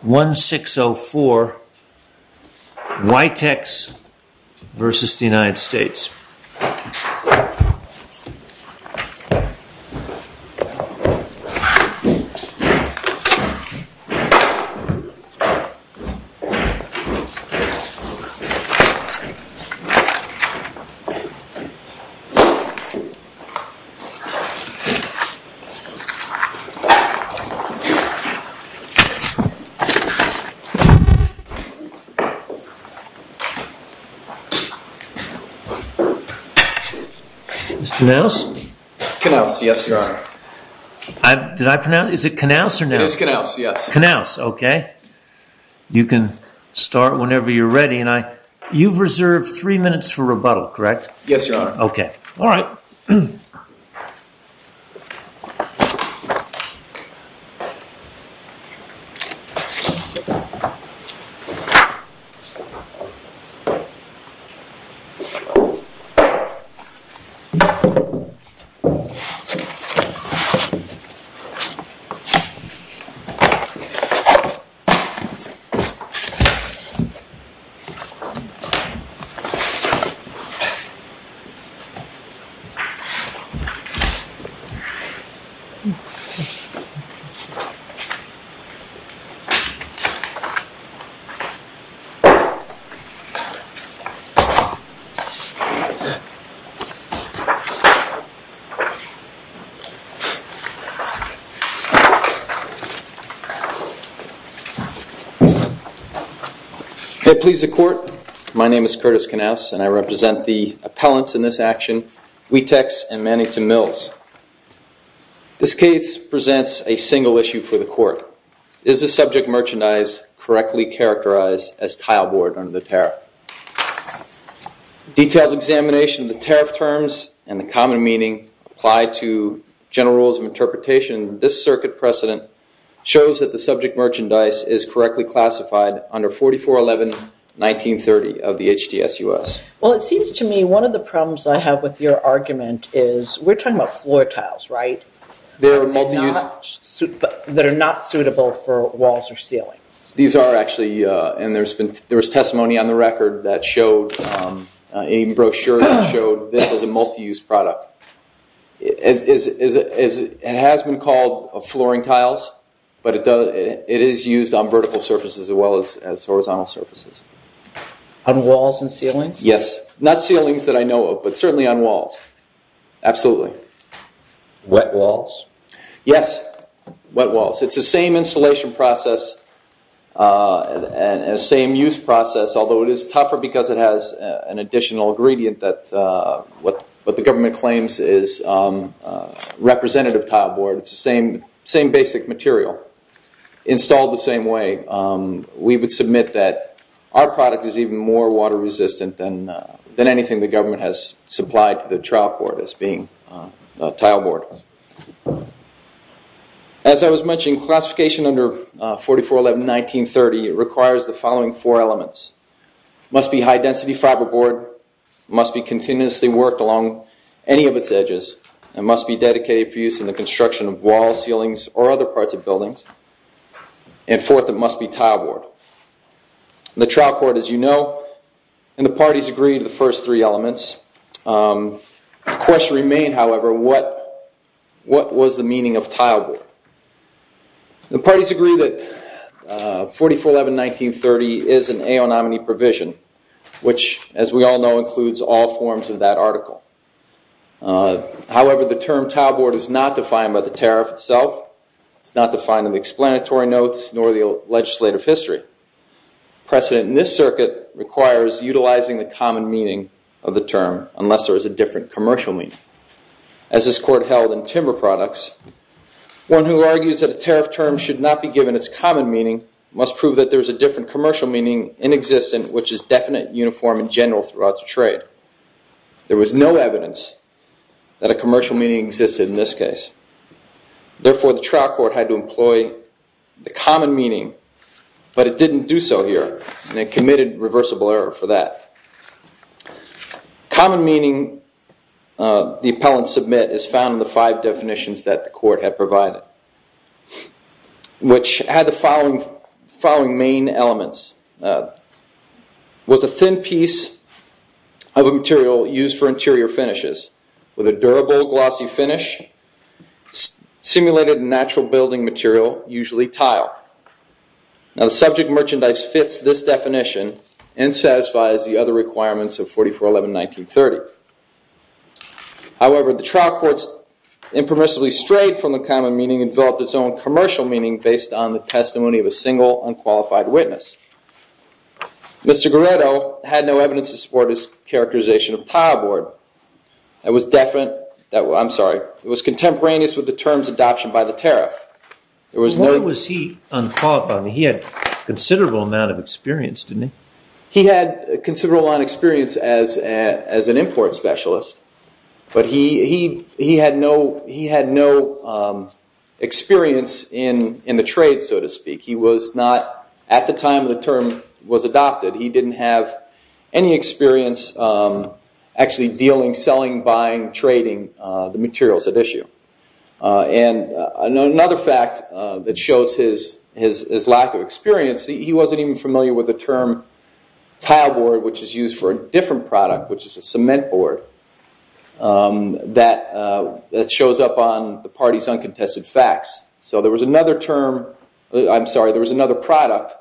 1604 Witex vs. the United States 1605 Witex vs. the United States 1605 Witex vs. the United States 1608 Witex vs. the United States 1609 Witex vs. the United States May it please the court, my name is Curtis Knauss and I represent the appellants in this action, Witex and Mannington Mills. This case presents a single issue for the court. Is the subject merchandise correctly characterized as tileboard under the tariff? Detailed examination of the tariff terms and the common meaning applied to general rules of interpretation in this circuit precedent shows that the subject merchandise is correctly classified under 4411 1930 of the HDSUS. Well, it seems to me one of the problems I have with your argument is we're talking about floor tiles, right? They're multi-use. That are not suitable for walls or ceilings. These are actually, and there's testimony on the record that showed, a brochure that showed this is a multi-use product. It has been called flooring tiles, but it is used on vertical surfaces as well as horizontal surfaces. On walls and ceilings? Yes, not ceilings that I know of, but certainly on walls. Absolutely. Wet walls? Yes, wet walls. It's the same installation process and the same use process, although it is tougher because it has an additional ingredient that what the government claims is representative tileboard. It's the same basic material installed the same way. We would submit that our product is even more water resistant than anything the government has supplied to the trial court as being tileboard. As I was mentioning, classification under 4411 1930 requires the following four elements. It must be high-density fiberboard. It must be continuously worked along any of its edges. It must be dedicated for use in the construction of walls, ceilings, or other parts of buildings. And fourth, it must be tileboard. The trial court, as you know, and the parties agree to the first three elements. The question remains, however, what was the meaning of tileboard? The parties agree that 4411 1930 is an AO nominee provision, which, as we all know, includes all forms of that article. However, the term tileboard is not defined by the tariff itself. It's not defined in the explanatory notes nor the legislative history. Precedent in this circuit requires utilizing the common meaning of the term unless there is a different commercial meaning. As this court held in timber products, one who argues that a tariff term should not be given its common meaning must prove that there is a different commercial meaning in existence which is definite, uniform, and general throughout the trade. There was no evidence that a commercial meaning existed in this case. Therefore, the trial court had to employ the common meaning. But it didn't do so here and it committed reversible error for that. Common meaning, the appellant submit, is found in the five definitions that the court had provided, which had the following main elements. With a thin piece of a material used for interior finishes. With a durable, glossy finish. Simulated in natural building material, usually tile. Now the subject merchandise fits this definition and satisfies the other requirements of 4411 1930. However, the trial court's impermissibly strayed from the common meaning and developed its own commercial meaning based on the testimony of a single, unqualified witness. Mr. Goretto had no evidence to support his characterization of tileboard. It was contemporaneous with the term's adoption by the tariff. Why was he unqualified? He had a considerable amount of experience, didn't he? He had a considerable amount of experience as an import specialist. But he had no experience in the trade, so to speak. He was not, at the time the term was adopted, he didn't have any experience actually dealing, selling, buying, trading the materials at issue. And another fact that shows his lack of experience, he wasn't even familiar with the term tileboard, which is used for a different product, which is a cement board, that shows up on the party's uncontested facts. So there was another term, I'm sorry, there was another product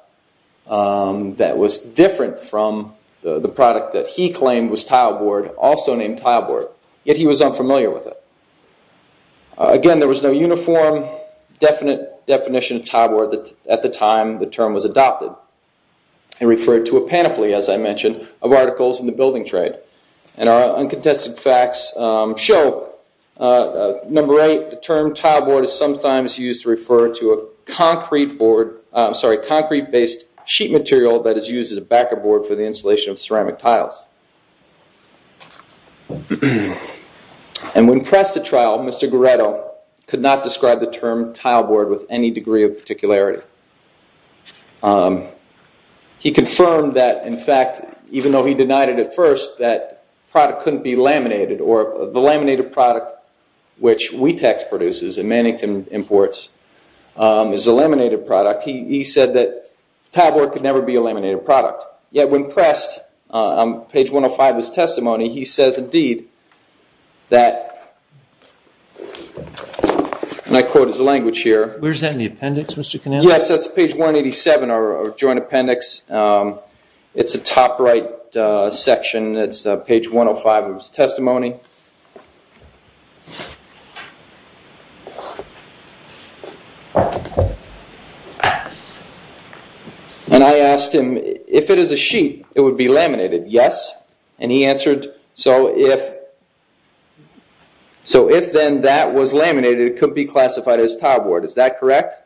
that was different from the product that he claimed was tileboard, also named tileboard, yet he was unfamiliar with it. Again, there was no uniform, definite definition of tileboard at the time the term was adopted. He referred to a panoply, as I mentioned, of articles in the building trade. And our uncontested facts show, number eight, the term tileboard is sometimes used to refer to a concrete board, I'm sorry, concrete-based sheet material that is used as a backer board for the installation of ceramic tiles. And when pressed at trial, Mr. Goretto could not describe the term tileboard with any degree of particularity. He confirmed that, in fact, even though he denied it at first, that product couldn't be laminated, or the laminated product which Wetex produces and Mannington imports is a laminated product. He said that tileboard could never be a laminated product. Yet, when pressed on page 105 of his testimony, he says, indeed, that, and I quote his language here. Where's that in the appendix, Mr. Canale? Yes, that's page 187, our joint appendix. It's a top-right section. It's page 105 of his testimony. And I asked him, if it is a sheet, it would be laminated, yes? And he answered, so if then that was laminated, it could be classified as tileboard, is that correct?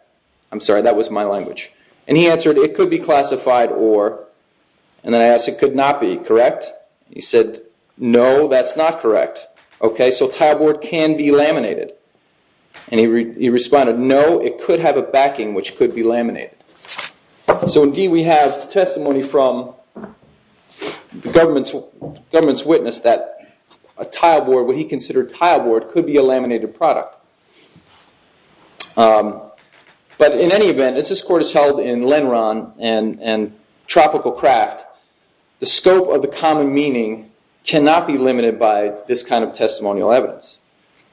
I'm sorry, that was my language. And he answered, it could be classified or, and then I asked, it could not be, correct? He said, no, that's not correct. Okay, so tileboard can be laminated. And he responded, no, it could have a backing which could be laminated. So, indeed, we have testimony from the government's witness that a tileboard, what he considered tileboard, could be a laminated product. But in any event, as this court has held in Lenron and Tropical Craft, the scope of the common meaning cannot be limited by this kind of testimonial evidence.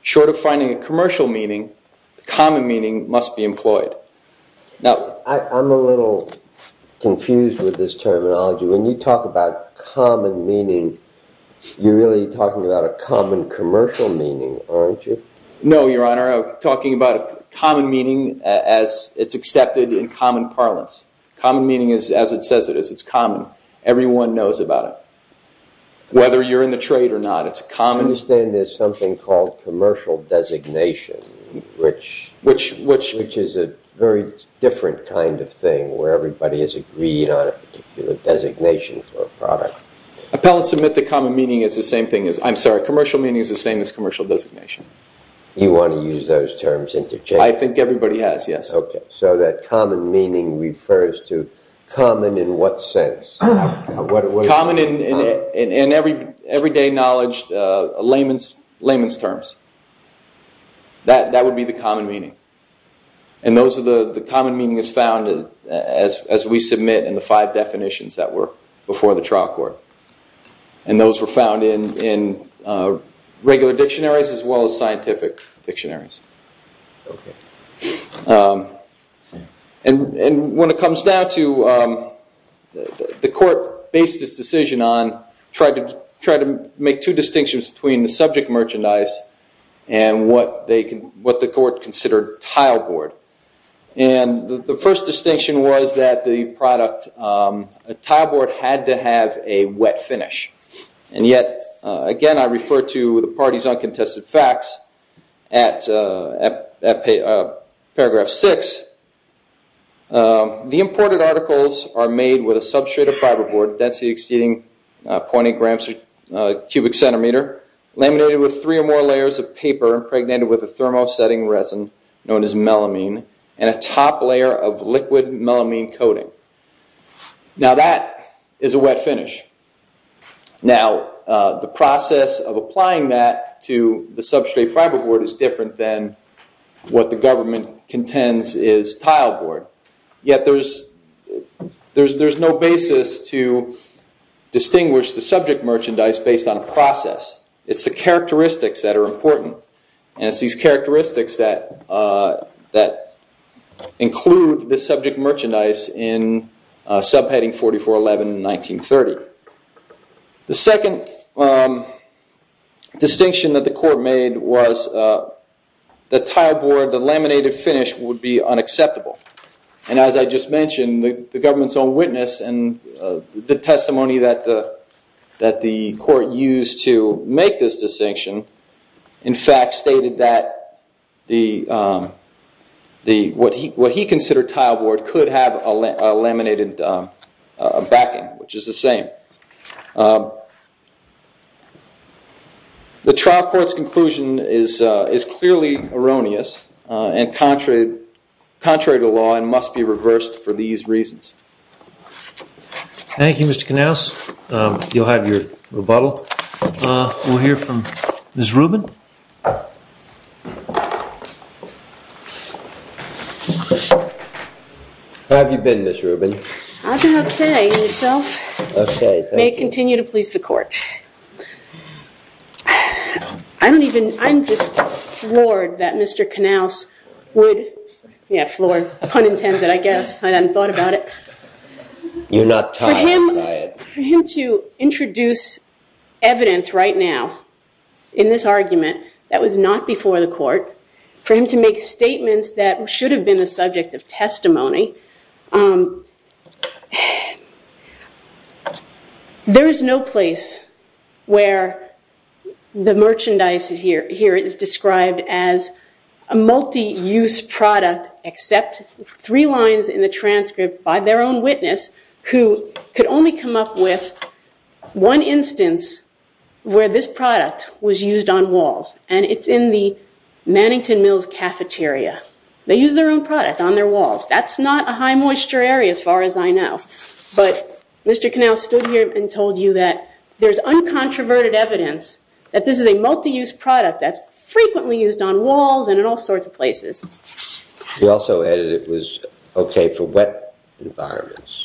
Short of finding a commercial meaning, the common meaning must be employed. Now, I'm a little confused with this terminology. When you talk about common meaning, you're really talking about a common commercial meaning, aren't you? No, Your Honor. I'm talking about common meaning as it's accepted in common parlance. Common meaning is as it says it is. It's common. Everyone knows about it. Whether you're in the trade or not, it's common. I understand there's something called commercial designation, which is a very different kind of thing where everybody has agreed on a particular designation for a product. Appellants admit that commercial meaning is the same as commercial designation. You want to use those terms interchangeably? I think everybody has, yes. Okay. So that common meaning refers to common in what sense? Common in everyday knowledge, layman's terms. That would be the common meaning. And those are the common meanings found as we submit in the five definitions that were before the trial court. And those were found in regular dictionaries as well as scientific dictionaries. Okay. And when it comes down to the court based its decision on trying to make two distinctions between the subject merchandise and what the court considered tileboard. And the first distinction was that the product tileboard had to have a wet finish. And yet, again, I refer to the party's uncontested facts at paragraph six. The imported articles are made with a substrate of fiberboard, density exceeding 20 grams per cubic centimeter, laminated with three or more layers of paper, impregnated with a thermosetting resin known as melamine, and a top layer of liquid melamine coating. Now that is a wet finish. Now the process of applying that to the substrate fiberboard is different than what the government contends is tileboard. Yet there's no basis to distinguish the subject merchandise based on a process. It's the characteristics that are important. And it's these characteristics that include the subject merchandise in subheading 4411 in 1930. The second distinction that the court made was the tileboard, the laminated finish, would be unacceptable. And as I just mentioned, the government's own witness and the testimony that the court used to make this distinction in fact stated that what he considered tileboard could have a laminated backing, which is the same. The trial court's conclusion is clearly erroneous and contrary to law and must be reversed for these reasons. Thank you, Mr. Knauss. You'll have your rebuttal. So we'll hear from Ms. Rubin. How have you been, Ms. Rubin? I've been okay. And yourself? Okay, thank you. May continue to please the court. I'm just floored that Mr. Knauss would, yeah, floored, pun intended, I guess. I hadn't thought about it. You're not tired by it. For him to introduce evidence right now in this argument that was not before the court, for him to make statements that should have been the subject of testimony, there is no place where the merchandise here is described as a multi-use product except three lines in the transcript by their own witness who could only come up with one instance where this product was used on walls, and it's in the Mannington Mills cafeteria. They use their own product on their walls. That's not a high-moisture area as far as I know. But Mr. Knauss stood here and told you that there's uncontroverted evidence that this is a multi-use product that's frequently used on walls and in all sorts of places. He also added it was okay for wet environments.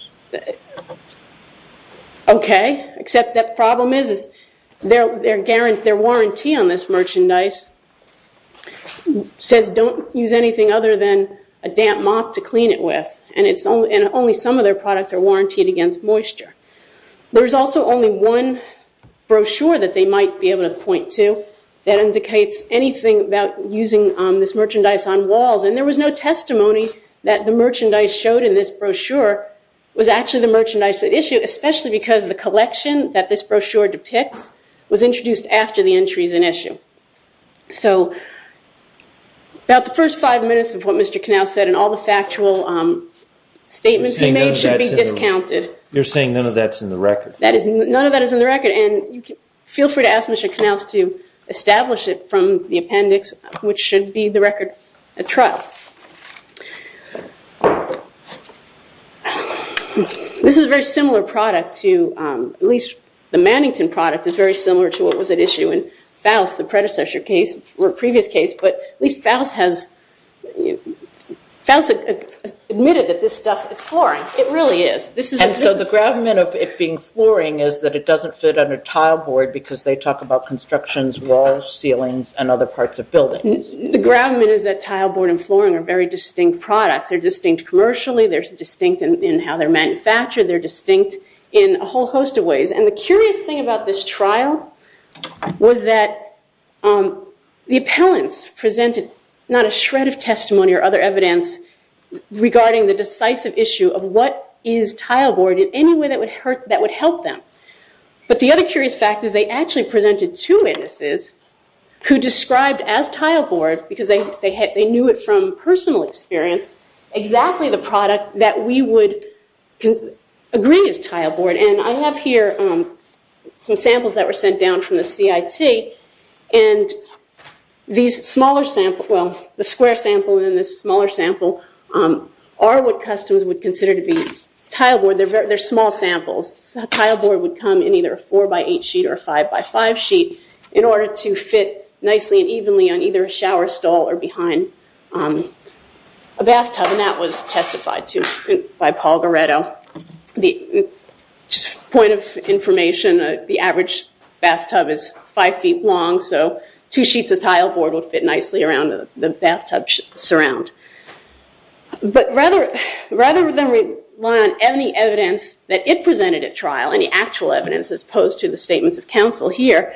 Okay, except the problem is their warranty on this merchandise says don't use anything other than a damp mop to clean it with, and only some of their products are warrantied against moisture. There's also only one brochure that they might be able to point to that indicates anything about using this merchandise on walls, and there was no testimony that the merchandise showed in this brochure was actually the merchandise at issue, especially because the collection that this brochure depicts was introduced after the entry is an issue. So about the first five minutes of what Mr. Knauss said and all the factual statements he made should be discounted. You're saying none of that's in the record? None of that is in the record, and feel free to ask Mr. Knauss to establish it from the appendix, which should be the record at trial. This is a very similar product to at least the Mannington product is very similar to what was at issue in Faust, the predecessor case or previous case, but at least Faust has admitted that this stuff is flooring. It really is. And so the gravamen of it being flooring is that it doesn't fit under tileboard because they talk about constructions, walls, ceilings, and other parts of buildings. The gravamen is that tileboard and flooring are very distinct products. They're distinct commercially. They're distinct in how they're manufactured. They're distinct in a whole host of ways, and the curious thing about this trial was that the appellants presented not a shred of testimony or other evidence regarding the decisive issue of what is tileboard in any way that would help them, but the other curious fact is they actually presented two witnesses who described as tileboard, because they knew it from personal experience, exactly the product that we would agree is tileboard, and I have here some samples that were sent down from the CIT, and these smaller samples, well, the square sample and this smaller sample, are what customers would consider to be tileboard. They're small samples. A tileboard would come in either a four-by-eight sheet or a five-by-five sheet in order to fit nicely and evenly on either a shower stall or behind a bathtub, and that was testified to by Paul Goretto. The point of information, the average bathtub is five feet long, so two sheets of tileboard would fit nicely around the bathtub surround. But rather than rely on any evidence that it presented at trial, any actual evidence as opposed to the statements of counsel here,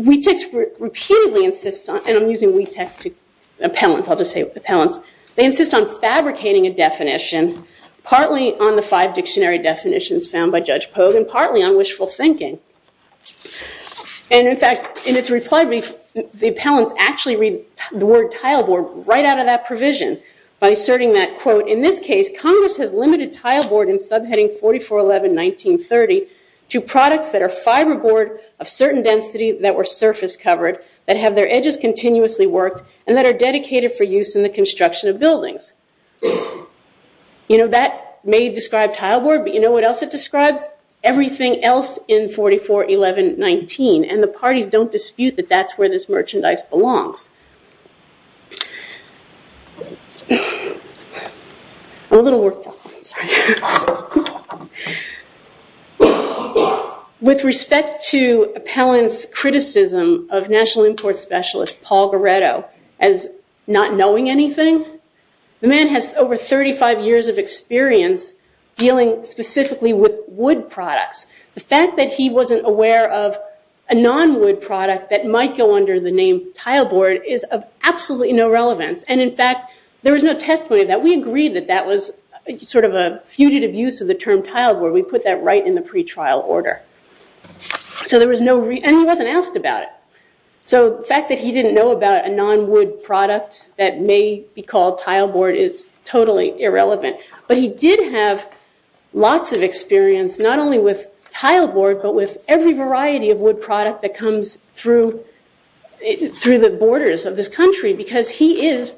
WETEX repeatedly insists on, and I'm using WETEX to, appellants, I'll just say appellants, they insist on fabricating a definition, partly on the five dictionary definitions found by Judge Pogue and partly on wishful thinking. In fact, in its reply brief, the appellants actually read the word tileboard right out of that provision by asserting that, quote, in this case, Congress has limited tileboard in subheading 4411-1930 to products that are fiberboard of certain density that were surface covered, that have their edges continuously worked, and that are dedicated for use in the construction of buildings. That may describe tileboard, but you know what else it describes? It describes everything else in 4411-19, and the parties don't dispute that that's where this merchandise belongs. I'm a little worked up, I'm sorry. With respect to appellants' criticism of National Imports Specialist Paul Goretto as not knowing anything, the man has over 35 years of experience dealing specifically with wood products. The fact that he wasn't aware of a non-wood product that might go under the name tileboard is of absolutely no relevance. In fact, there was no testimony of that. We agreed that that was sort of a fugitive use of the term tileboard. We put that right in the pretrial order. He wasn't asked about it. The fact that he didn't know about a non-wood product that may be called tileboard is totally irrelevant. But he did have lots of experience, not only with tileboard, but with every variety of wood product that comes through the borders of this country, because he is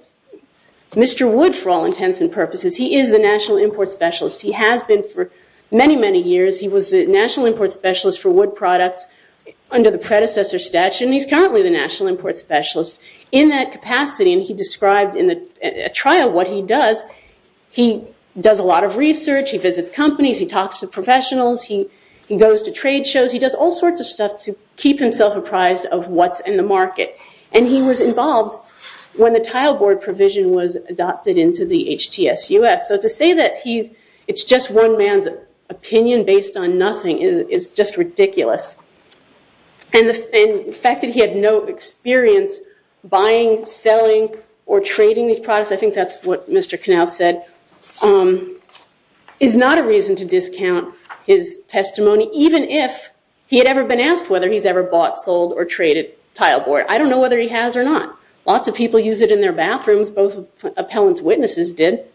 Mr. Wood for all intents and purposes. He is the National Import Specialist. He has been for many, many years. He was the National Import Specialist for wood products under the predecessor statute, and he's currently the National Import Specialist in that capacity. He described in a trial what he does. He does a lot of research. He visits companies. He talks to professionals. He goes to trade shows. He does all sorts of stuff to keep himself apprised of what's in the market. He was involved when the tileboard provision was adopted into the HTSUS. To say that it's just one man's opinion based on nothing is just ridiculous. The fact that he had no experience buying, selling, or trading these products, I think that's what Mr. Knauss said, is not a reason to discount his testimony, even if he had ever been asked whether he's ever bought, sold, or traded tileboard. I don't know whether he has or not. Lots of people use it in their bathrooms. Both appellant's witnesses did.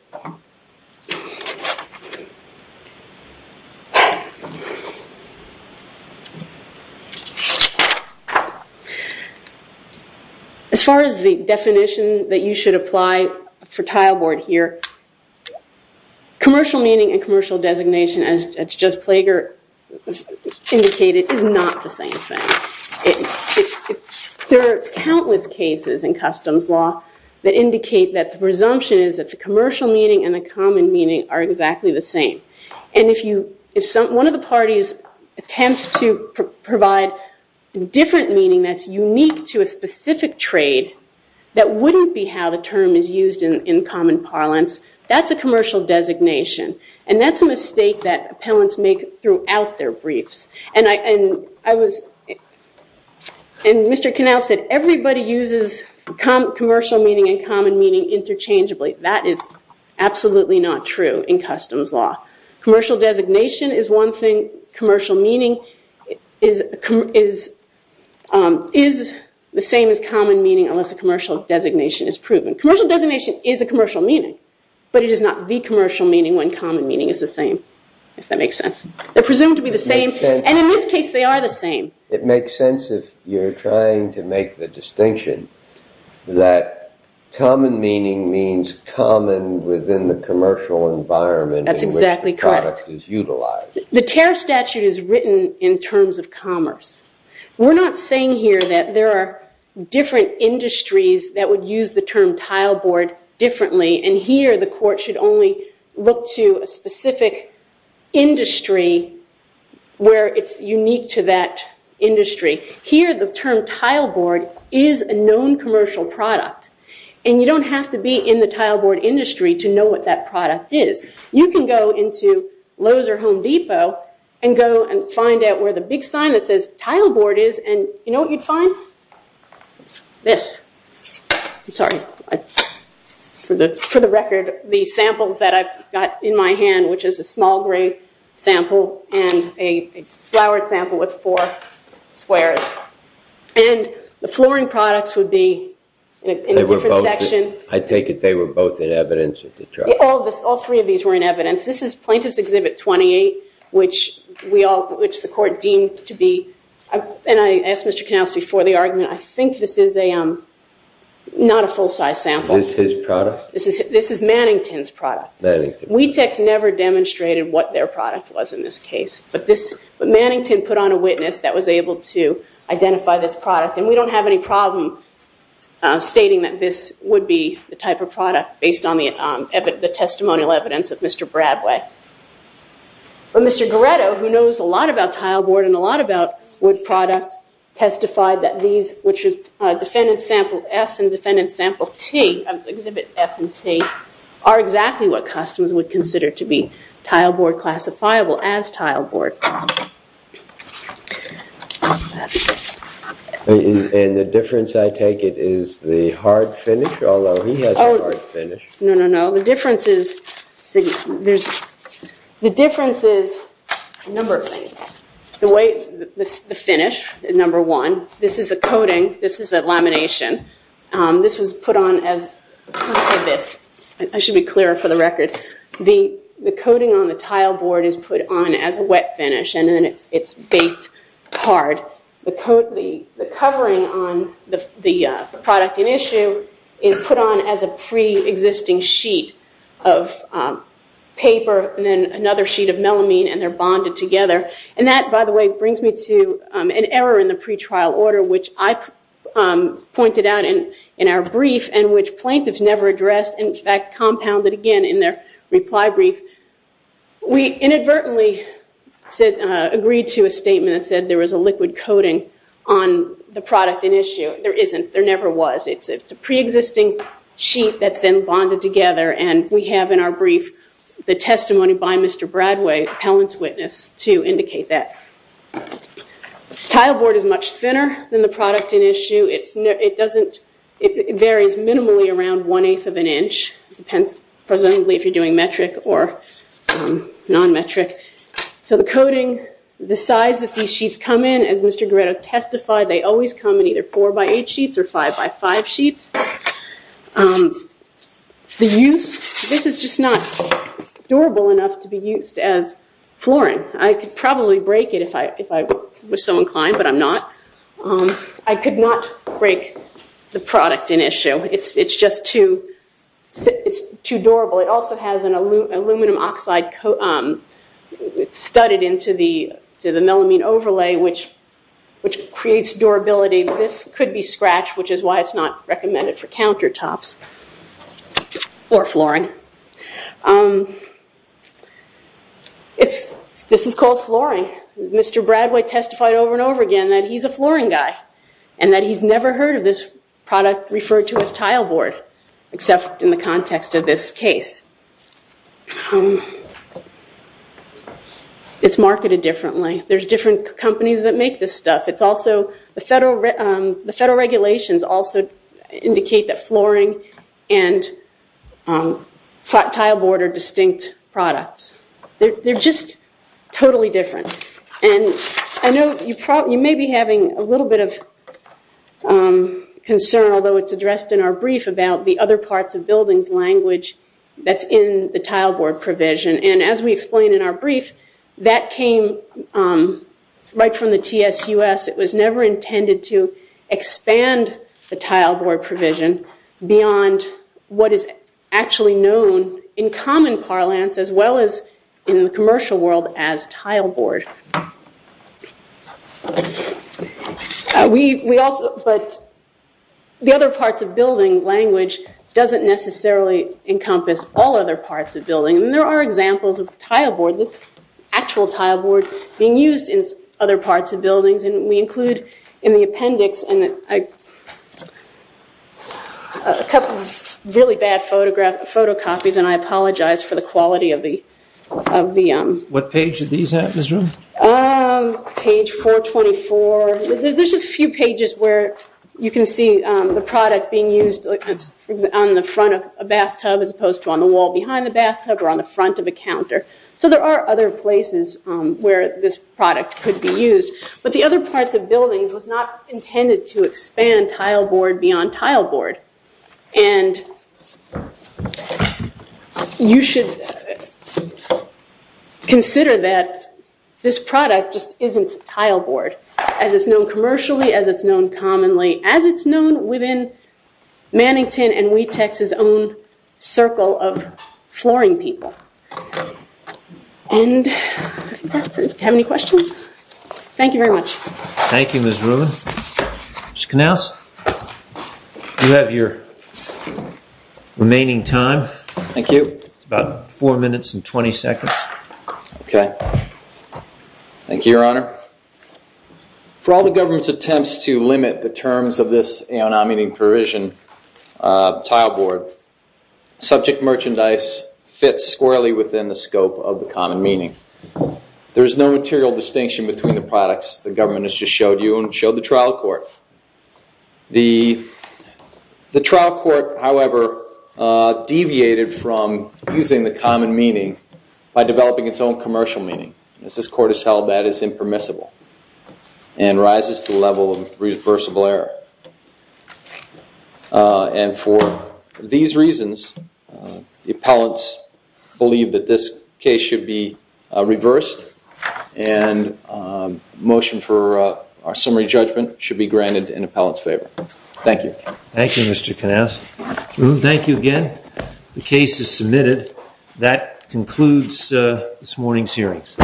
As far as the definition that you should apply for tileboard here, commercial meaning and commercial designation, as Judge Plager indicated, is not the same thing. There are countless cases in customs law that indicate that the presumption is that the commercial meaning and the common meaning are exactly the same. If one of the parties attempts to provide different meaning that's unique to a specific trade, that wouldn't be how the term is used in common parlance. That's a commercial designation. That's a mistake that appellants make throughout their briefs. Mr. Knauss said everybody uses commercial meaning and common meaning interchangeably. That is absolutely not true in customs law. Commercial designation is one thing. Commercial meaning is the same as common meaning unless a commercial designation is proven. Commercial designation is a commercial meaning, but it is not the commercial meaning when common meaning is the same, if that makes sense. They're presumed to be the same, and in this case they are the same. It makes sense if you're trying to make the distinction that common meaning means common within the commercial environment. That's exactly correct. The tariff statute is written in terms of commerce. We're not saying here that there are different industries that would use the term tileboard differently, and here the court should only look to a specific industry where it's unique to that industry. Here the term tileboard is a known commercial product, and you don't have to be in the tileboard industry to know what that product is. You can go into Lowe's or Home Depot and go and find out where the big sign that says tileboard is, and you know what you'd find? This. I'm sorry. For the record, the samples that I've got in my hand, which is a small gray sample and a flowered sample with four squares, and the flooring products would be in a different section. I take it they were both in evidence at the trial. All three of these were in evidence. This is Plaintiff's Exhibit 28, which the court deemed to be, and I asked Mr. Knauss before the argument, I think this is not a full-size sample. Is this his product? This is Mannington's product. Wetex never demonstrated what their product was in this case, but Mannington put on a witness that was able to identify this product, and we don't have any problem stating that this would be the type of product based on the testimonial evidence of Mr. Bradway. But Mr. Goretto, who knows a lot about tileboard and a lot about wood products, testified that these, which is Defendant Sample S and Defendant Sample T, Exhibit S and T, are exactly what customers would consider to be tileboard classifiable as tileboard. And the difference, I take it, is the hard finish? Although he has a hard finish. No, no, no. The difference is, number one, the finish. This is the coating. This is the lamination. This was put on as, let me say this. I should be clearer for the record. The coating on the tileboard is put on as a wet finish, and then it's baked hard. The covering on the product in issue is put on as a pre-existing sheet of paper, and then another sheet of melamine, and they're bonded together. And that, by the way, brings me to an error in the pretrial order, which I pointed out in our brief, and which plaintiffs never addressed. In fact, compounded again in their reply brief. We inadvertently agreed to a statement that said there was a liquid coating on the product in issue. There isn't. There never was. It's a pre-existing sheet that's been bonded together, and we have in our brief the testimony by Mr. Bradway, appellant's witness, to indicate that. Tileboard is much thinner than the product in issue. It varies minimally around one-eighth of an inch. It depends presumably if you're doing metric or non-metric. So the coating, the size that these sheets come in, as Mr. Goretto testified, they always come in either four-by-eight sheets or five-by-five sheets. The use, this is just not durable enough to be used as flooring. I could probably break it if I was so inclined, but I'm not. I could not break the product in issue. It's just too durable. It also has an aluminum oxide studded into the melamine overlay, which creates durability. This could be scratched, which is why it's not recommended for countertops or flooring. This is called flooring. Mr. Bradway testified over and over again that he's a flooring guy and that he's never heard of this product referred to as tileboard, except in the context of this case. It's marketed differently. There's different companies that make this stuff. The federal regulations also indicate that flooring and tileboard are distinct products. They're just totally different. You may be having a little bit of concern, although it's addressed in our brief, about the other parts of buildings language that's in the tileboard provision. As we explained in our brief, that came right from the TSUS. It was never intended to expand the tileboard provision beyond what is actually known in common parlance as well as in the commercial world as tileboard. The other parts of building language doesn't necessarily encompass all other parts of building. There are examples of tileboard, actual tileboard, being used in other parts of buildings. We include in the appendix a couple of really bad photocopies. I apologize for the quality of the... What page did these have in this room? Page 424. There's just a few pages where you can see the product being used on the front of a bathtub as opposed to on the wall behind the bathtub or on the front of a counter. There are other places where this product could be used. The other parts of buildings was not intended to expand tileboard beyond tileboard. You should consider that this product just isn't tileboard as it's known commercially, as it's known commonly, as it's known within Mannington and Wetex's own circle of flooring people. Do you have any questions? Thank you very much. Thank you, Ms. Rubin. Mr. Knauss, you have your remaining time. Thank you. It's about 4 minutes and 20 seconds. Okay. Thank you, Your Honor. Your Honor, for all the government's attempts to limit the terms of this non-meaning provision, tileboard, subject merchandise fits squarely within the scope of the common meaning. There is no material distinction between the products the government has just showed you and showed the trial court. The trial court, however, deviated from using the common meaning by developing its own commercial meaning. As this court has held, that is impermissible and rises to the level of reversible error. And for these reasons, the appellants believe that this case should be reversed and motion for our summary judgment should be granted in appellant's favor. Thank you. Thank you, Mr. Knauss. Thank you again. The case is submitted. That concludes this morning's hearings.